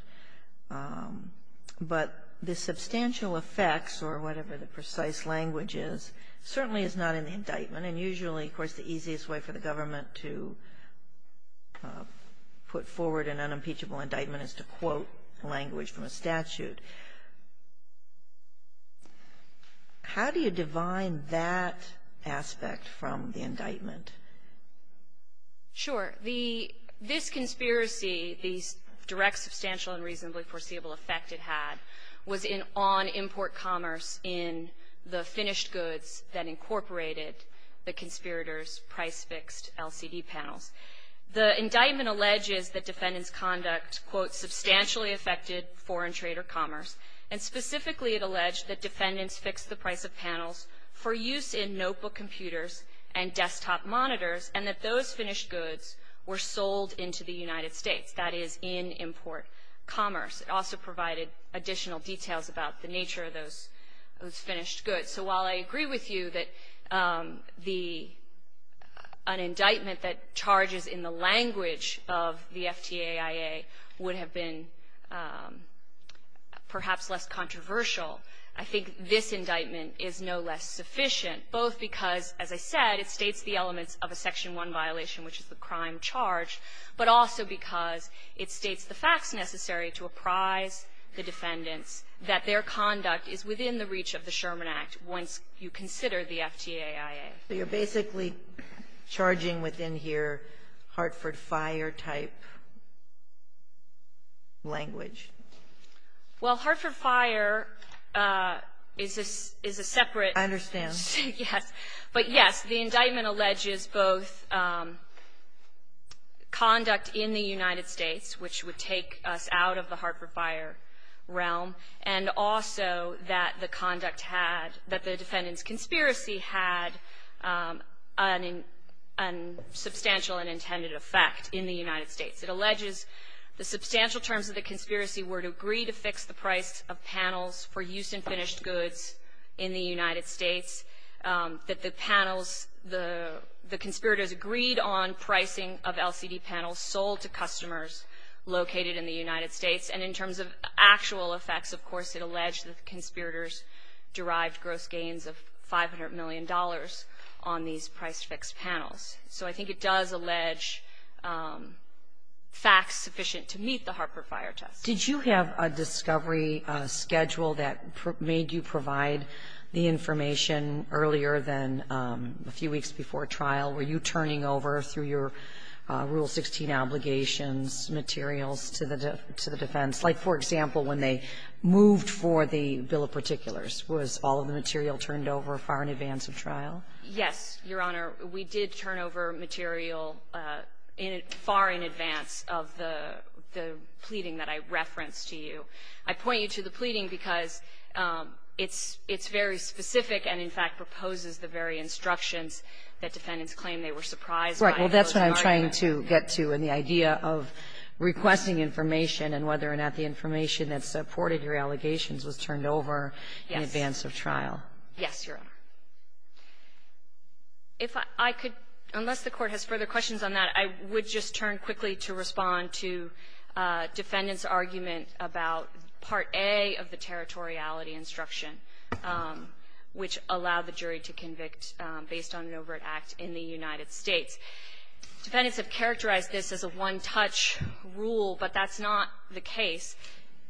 But the substantial effects, or whatever the precise language is, certainly is not in the indictment. And usually, of course, the easiest way for the government to put forward an unimpeachable indictment is to quote language from a statute. How do you divine that aspect from the indictment? Sure. This conspiracy, the direct, substantial, and reasonably foreseeable effect it had was on import commerce in the finished goods that incorporated the conspirators' price-fixed LCD panels. The indictment alleges that defendants' conduct, quote, substantially affected foreign trade or commerce. And specifically, it alleged that defendants fixed the price of panels for use in notebook computers and desktop monitors, and that those finished goods were sold into the United States. That is, in import commerce. It also provided additional details about the nature of those finished goods. So while I agree with you that an indictment that charges in the language of the FTAIA would have been perhaps less controversial, I think this indictment is no less sufficient, both because, as I said, it states the elements of a Section 1 violation, which is the crime charged, but also because it states the facts necessary to apprise the defendants that their conduct is within the reach of the Sherman Act once you consider the FTAIA. So you're basically charging within here Hartford Fire-type language? Well, Hartford Fire is a separate ---- Yes. But yes, the indictment alleges both conduct in the United States, which would take us out of the Hartford Fire realm, and also that the conduct had, that the defendants' conspiracy had a substantial and intended effect in the United States. It alleges the substantial terms of the conspiracy were to agree to fix the price of panels for use in finished goods in the United States, that the panels, the conspirators agreed on pricing of LCD panels sold to customers located in the United States. And in terms of actual effects, of course, it alleged that the conspirators derived gross gains of $500 million on these price-fixed panels. So I think it does allege facts sufficient to meet the Hartford Fire test. Did you have a discovery schedule that made you provide the information earlier than a few weeks before trial? Were you turning over through your Rule 16 obligations materials to the defense? Like, for example, when they moved for the bill of particulars, was all of the material turned over far in advance of trial? Yes, Your Honor. We did turn over material far in advance of the pleading that I referenced to you. I point you to the pleading because it's very specific and, in fact, proposes the very instructions that defendants claim they were surprised by. Right. Well, that's what I'm trying to get to in the idea of requesting information and whether or not the information that supported your allegations was turned over in advance of trial. Yes, Your Honor. If I could, unless the Court has further questions on that, I would just turn quickly to Respond to Defendant's argument about Part A of the territoriality instruction, which allowed the jury to convict based on an overt act in the United States. Defendants have characterized this as a one-touch rule, but that's not the case.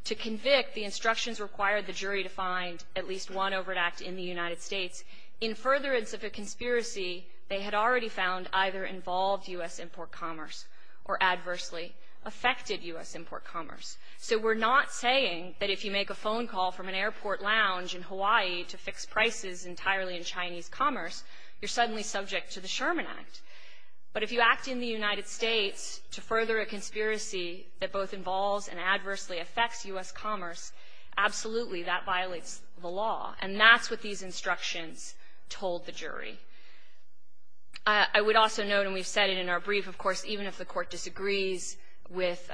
To convict, the instructions require the jury to find at least one overt act in the United States. In furtherance of a conspiracy, they had already found either involved U.S. import commerce or adversely affected U.S. import commerce. So we're not saying that if you make a phone call from an airport lounge in Hawaii to fix prices entirely in Chinese commerce, you're suddenly subject to the Sherman Act. But if you act in the United States to further a conspiracy that both involves and adversely affects U.S. commerce, absolutely that violates the law. And that's what these instructions told the jury. I would also note, and we've said it in our brief, of course, even if the Court disagrees with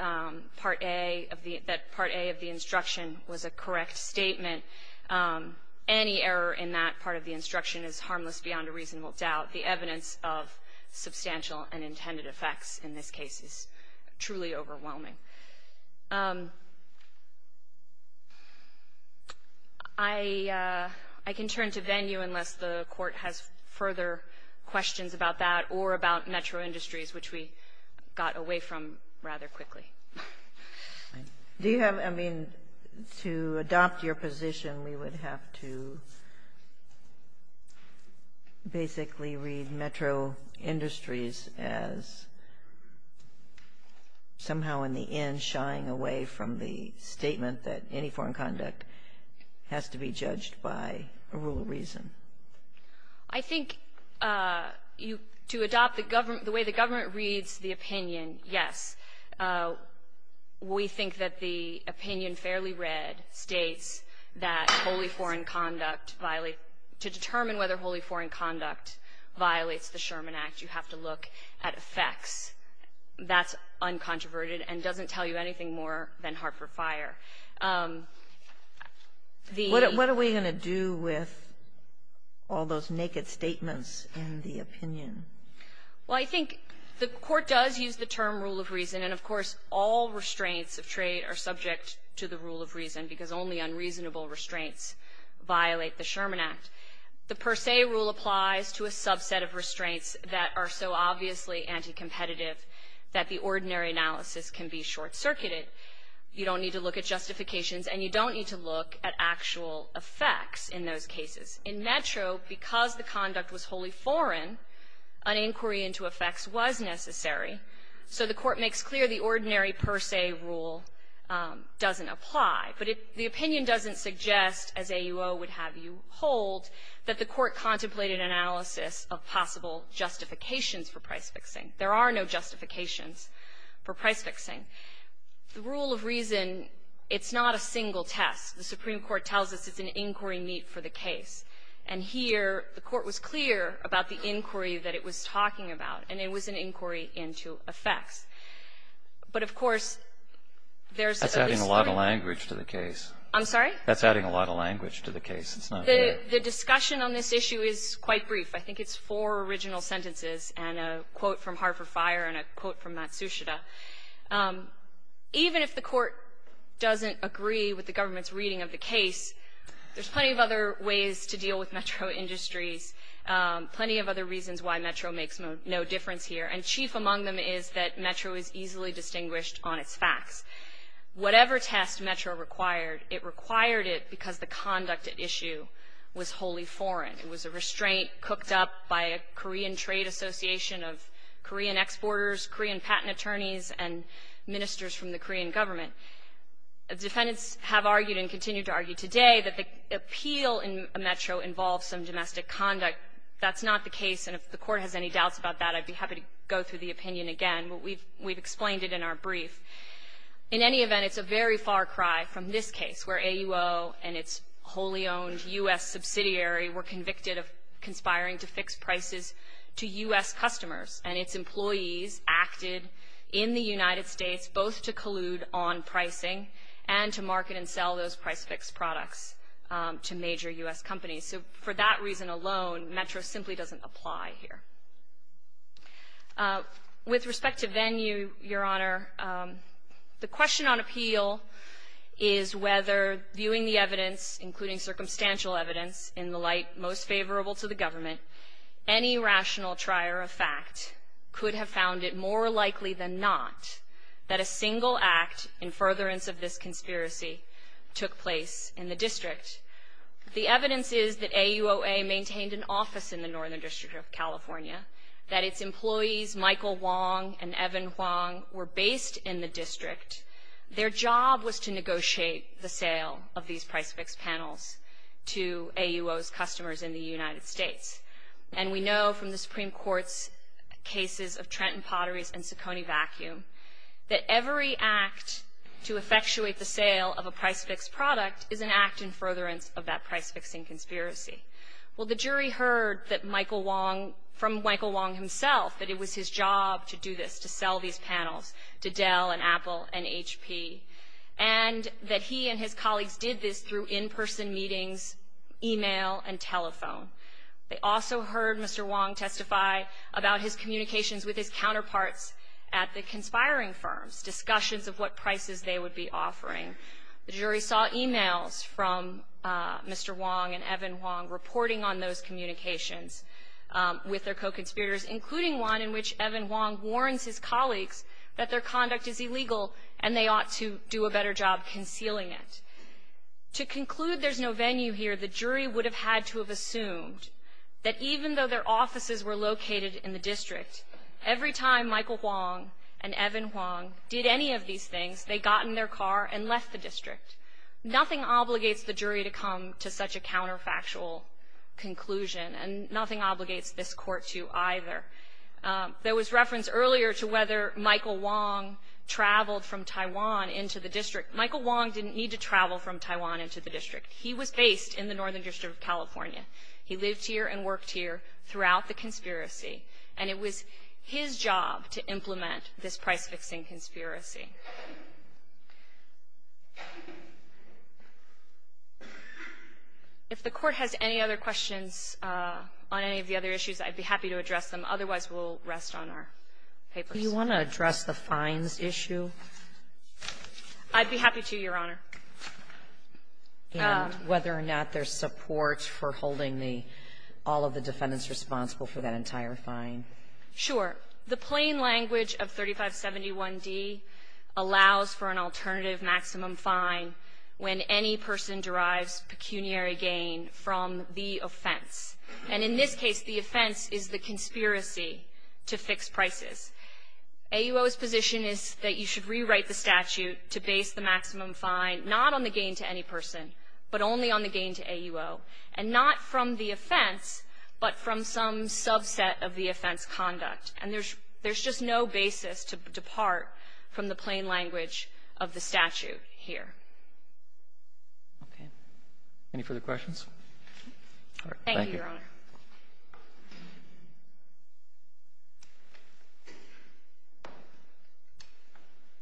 Part A of the – that Part A of the instruction was a correct statement, any error in that part of the instruction is harmless beyond a reasonable doubt. The evidence of substantial and intended effects in this case is truly overwhelming. I can turn to venue unless the Court has further questions about that or about metro industries, which we got away from rather quickly. Do you have – I mean, to adopt your position, we would have to basically read metro industries as somehow in the end shying away from the statement that any foreign conduct has to be judged by a rule of reason. I think you – to adopt the way the government reads the opinion, yes. We think that the opinion fairly read states that wholly foreign conduct – to determine whether wholly foreign conduct violates the Sherman Act, you have to look at effects. That's uncontroverted and doesn't tell you anything more than Hartford Fire. The – What are we going to do with all those naked statements in the opinion? Well, I think the Court does use the term rule of reason, and of course, all restraints of trade are subject to the rule of reason because only unreasonable restraints violate the Sherman Act. The per se rule applies to a subset of restraints that are so obviously anticompetitive that the ordinary analysis can be short-circuited. You don't need to look at justifications and you don't need to look at actual effects in those cases. In metro, because the conduct was wholly foreign, an inquiry into effects was necessary, so the Court makes clear the ordinary per se rule doesn't apply. But the opinion doesn't suggest, as AUO would have you hold, that the Court contemplated analysis of possible justifications for price-fixing. There are no justifications for price-fixing. The rule of reason, it's not a single test. The Supreme Court tells us it's an inquiry meet for the case. And here, the Court was clear about the inquiry that it was talking about, and it was an inquiry into effects. But, of course, there's a – I'm sorry? That's adding a lot of language to the case. It's not clear. The discussion on this issue is quite brief. I think it's four original sentences and a quote from Hart for Fire and a quote from Matsushita. Even if the Court doesn't agree with the government's reading of the case, there's plenty of other ways to deal with metro industries, plenty of other reasons why metro makes no difference here. And chief among them is that metro is easily distinguished on its facts. Whatever test metro required, it required it because the conduct at issue was wholly foreign. It was a restraint cooked up by a Korean trade association of Korean exporters, Korean patent attorneys, and ministers from the Korean government. Defendants have argued and continue to argue today that the appeal in a metro involves some domestic conduct. That's not the case. And if the Court has any doubts about that, I'd be happy to go through the opinion again. But we've explained it in our brief. In any event, it's a very far cry from this case where AUO and its wholly-owned U.S. subsidiary were convicted of conspiring to fix prices to U.S. customers, and its employees acted in the United States both to collude on pricing and to market and sell those price-fix products to major U.S. companies. So for that reason alone, metro simply doesn't apply here. With respect to venue, Your Honor, the question on appeal is whether viewing the evidence, including circumstantial evidence in the light most favorable to the government, any rational trier of fact could have found it more likely than not that a single act in furtherance of this conspiracy took place in the district. The evidence is that AUOA maintained an office in the Northern District of Virginia, that its employees, Michael Wong and Evan Wong, were based in the district. Their job was to negotiate the sale of these price-fix panels to AUOA's customers in the United States. And we know from the Supreme Court's cases of Trenton Potteries and Succoni Vacuum that every act to effectuate the sale of a price-fix product is an act in furtherance of that price-fixing conspiracy. Well, the jury heard that Michael Wong, from Michael Wong himself, that it was his job to do this, to sell these panels to Dell and Apple and HP, and that he and his colleagues did this through in-person meetings, e-mail and telephone. They also heard Mr. Wong testify about his communications with his counterparts at the conspiring firms, discussions of what prices they would be offering. The jury saw e-mails from Mr. Wong and Evan Wong reporting on those communications with their co-conspirators, including one in which Evan Wong warns his colleagues that their conduct is illegal and they ought to do a better job concealing it. To conclude there's no venue here, the jury would have had to have assumed that even though their offices were located in the district, every time Michael Wong and Evan Wong did any of these things, they got in their car and left the district. Nothing obligates the jury to come to such a counterfactual conclusion, and nothing obligates this Court to either. There was reference earlier to whether Michael Wong traveled from Taiwan into the district. Michael Wong didn't need to travel from Taiwan into the district. He was based in the Northern District of California. He lived here and worked here throughout the conspiracy, and it was his job to implement this price-fixing conspiracy. If the Court has any other questions on any of the other issues, I'd be happy to address them. Otherwise, we'll rest on our papers. Sotomayor, do you want to address the fines issue? I'd be happy to, Your Honor. And whether or not there's support for holding the all of the defendants responsible for that entire fine. Sure. The plain language of 3571d allows for an alternative maximum fine when any person derives pecuniary gain from the offense. And in this case, the offense is the conspiracy to fix prices. AUO's position is that you should rewrite the statute to base the maximum fine not on the gain to any person, but only on the gain to AUO, and not from the offense, but from some subset of the offense conduct. And there's just no basis to depart from the plain language of the statute here. Okay. Any further questions? All right. Thank you, Your Honor.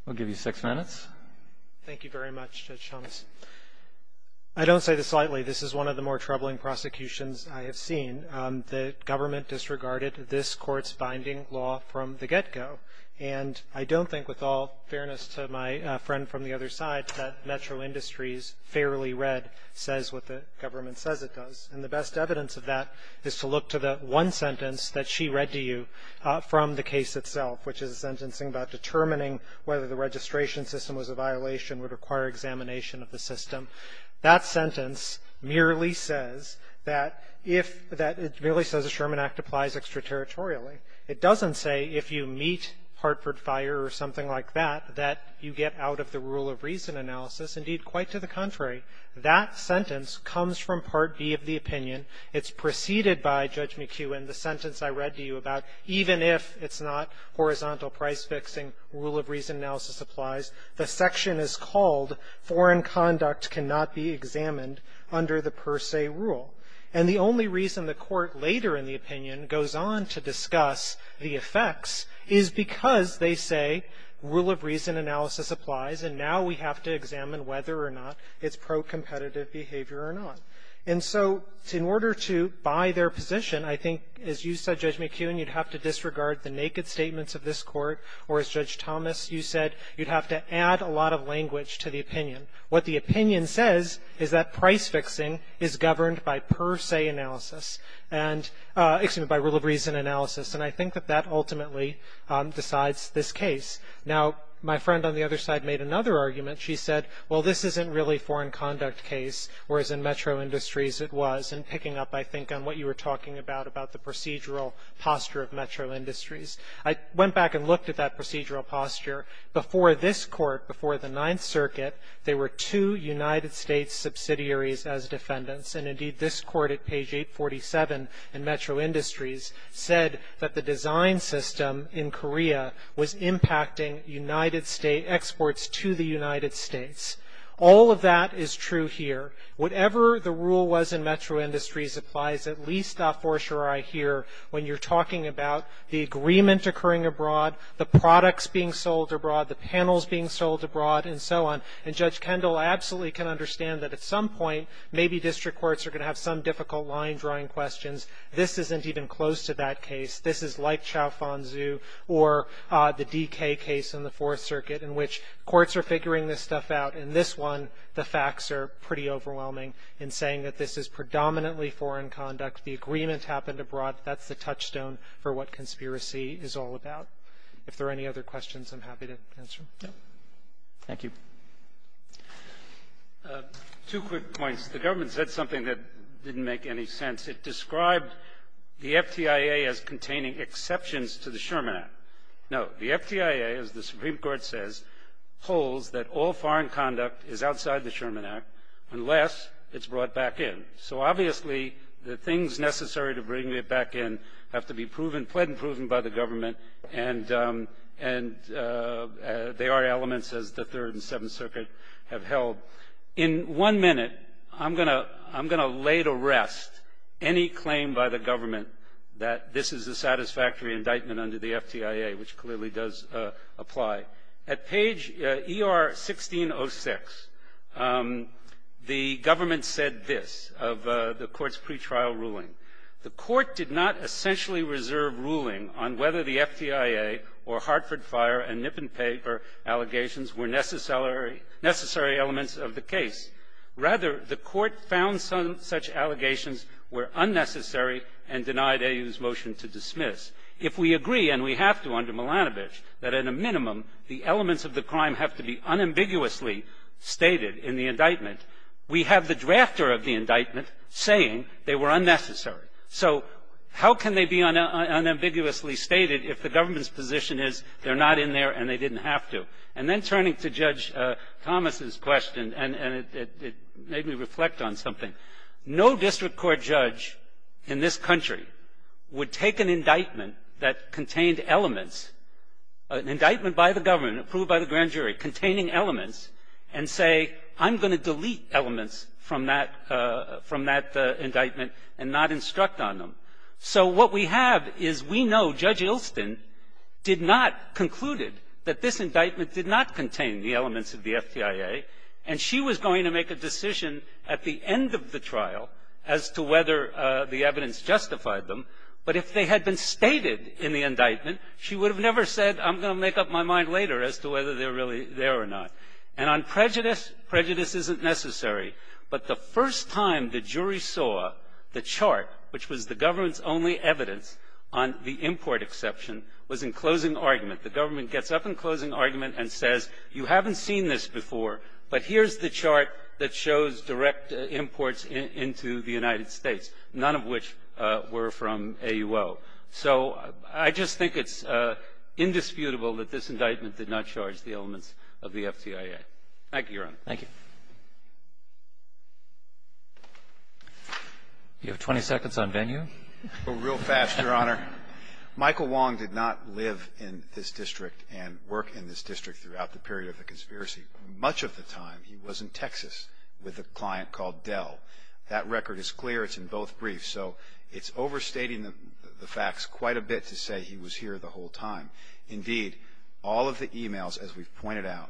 We'll give you six minutes. Thank you very much, Judge Thomas. I don't say this lightly. This is one of the more troubling prosecutions I have seen. The government disregarded this Court's binding law from the get-go. And I don't think, with all fairness to my friend from the other side, that Metro Industries fairly read says what the government says it does. And the best evidence of that is to look to the one sentence that she read to you from the case itself, which is a sentencing about determining whether the registration system was a violation would require examination of the system. That sentence merely says that if that — it merely says the Sherman Act applies extraterritorially. It doesn't say if you meet Hartford Fire or something like that, that you get out of the rule-of-reason analysis. Indeed, quite to the contrary, that sentence comes from Part B of the opinion. It's preceded by, Judge McHugh, in the sentence I read to you about even if it's not horizontal price-fixing, rule-of-reason analysis applies. The section is called foreign conduct cannot be examined under the per se rule. And the only reason the Court later in the opinion goes on to discuss the effects is because they say rule-of-reason analysis applies, and now we have to examine whether or not it's pro-competitive behavior or not. And so in order to buy their position, I think, as you said, Judge McHugh, and you'd have to disregard the naked statements of this Court, or as Judge Thomas, you said, you'd have to add a lot of language to the opinion. What the opinion says is that price-fixing is governed by per se analysis, and — excuse me, by rule-of-reason analysis. And I think that that ultimately decides this case. Now, my friend on the other side made another argument. She said, well, this isn't really foreign conduct case, whereas in metro industries it was, and picking up, I think, on what you were talking about, about the procedural posture of metro industries. I went back and looked at that procedural posture. Before this Court, before the Ninth Circuit, there were two United States subsidiaries as defendants, and indeed, this Court at page 847 in metro industries said that the design system in Korea was impacting United States — exports to the United States. All of that is true here. Whatever the rule was in metro industries applies at least a fortiori here when you're talking about the agreement occurring abroad, the products being sold abroad, the panels being sold abroad, and so on. And Judge Kendall absolutely can understand that at some point, maybe district courts are going to have some difficult line-drawing questions. This isn't even close to that case. This is like Chao-Fon-Zhu or the DK case in the Fourth Circuit in which courts are And this one, the facts are pretty overwhelming in saying that this is predominantly foreign conduct. The agreement happened abroad. That's the touchstone for what conspiracy is all about. If there are any other questions, I'm happy to answer them. Thank you. Two quick points. The government said something that didn't make any sense. It described the FTIA as containing exceptions to the Sherman Act. No, the FTIA, as the Supreme Court says, holds that all foreign conduct is outside the Sherman Act unless it's brought back in. So, obviously, the things necessary to bring it back in have to be proven, pled and proven by the government, and they are elements, as the Third and Seventh Circuit have held. In one minute, I'm going to lay to rest any claim by the government that this is a FTIA, which clearly does apply. At page ER-1606, the government said this of the Court's pretrial ruling. The Court did not essentially reserve ruling on whether the FTIA or Hartford Fire and Nippon Paper allegations were necessary elements of the case. Rather, the Court found such allegations were unnecessary and denied AU's motion to dismiss. If we agree, and we have to under Milanovich, that at a minimum the elements of the crime have to be unambiguously stated in the indictment, we have the drafter of the indictment saying they were unnecessary. So how can they be unambiguously stated if the government's position is they're not in there and they didn't have to? And then turning to Judge Thomas's question, and it made me reflect on something, no district court judge in this country would take an indictment that contained elements, an indictment by the government, approved by the grand jury, containing elements and say, I'm going to delete elements from that indictment and not instruct on them. So what we have is we know Judge Ilston did not conclude that this indictment did not contain the elements of the FTIA, and she was going to make a decision at the end of the trial as to whether the evidence justified them. But if they had been stated in the indictment, she would have never said, I'm going to make up my mind later as to whether they're really there or not. And on prejudice, prejudice isn't necessary. But the first time the jury saw the chart, which was the government's only evidence on the import exception, was in closing argument. The government gets up in closing argument and says, you haven't seen this before, but here's the chart that shows direct imports into the United States, none of which were from AUO. So I just think it's indisputable that this indictment did not charge the elements of the FTIA. Thank you, Your Honor. Thank you. You have 20 seconds on venue. Real fast, Your Honor. Michael Wong did not live in this district and work in this district throughout the period of the conspiracy. Much of the time, he was in Texas with a client called Dell. That record is clear. It's in both briefs. So it's overstating the facts quite a bit to say he was here the whole time. Indeed, all of the e-mails, as we've pointed out,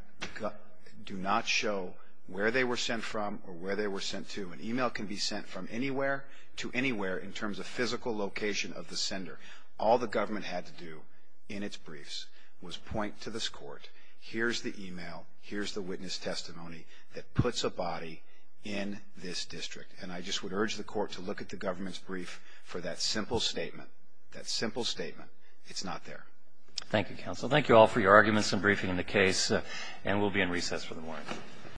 do not show where they were sent from or where they were sent to. An e-mail can be sent from anywhere to anywhere in terms of physical location of the sender. All the government had to do in its briefs was point to this court, here's the e-mail, here's the witness testimony that puts a body in this district. And I just would urge the court to look at the government's brief for that simple statement, that simple statement. It's not there. Thank you, counsel. Thank you all for your arguments and briefing in the case. And we'll be in recess for the morning.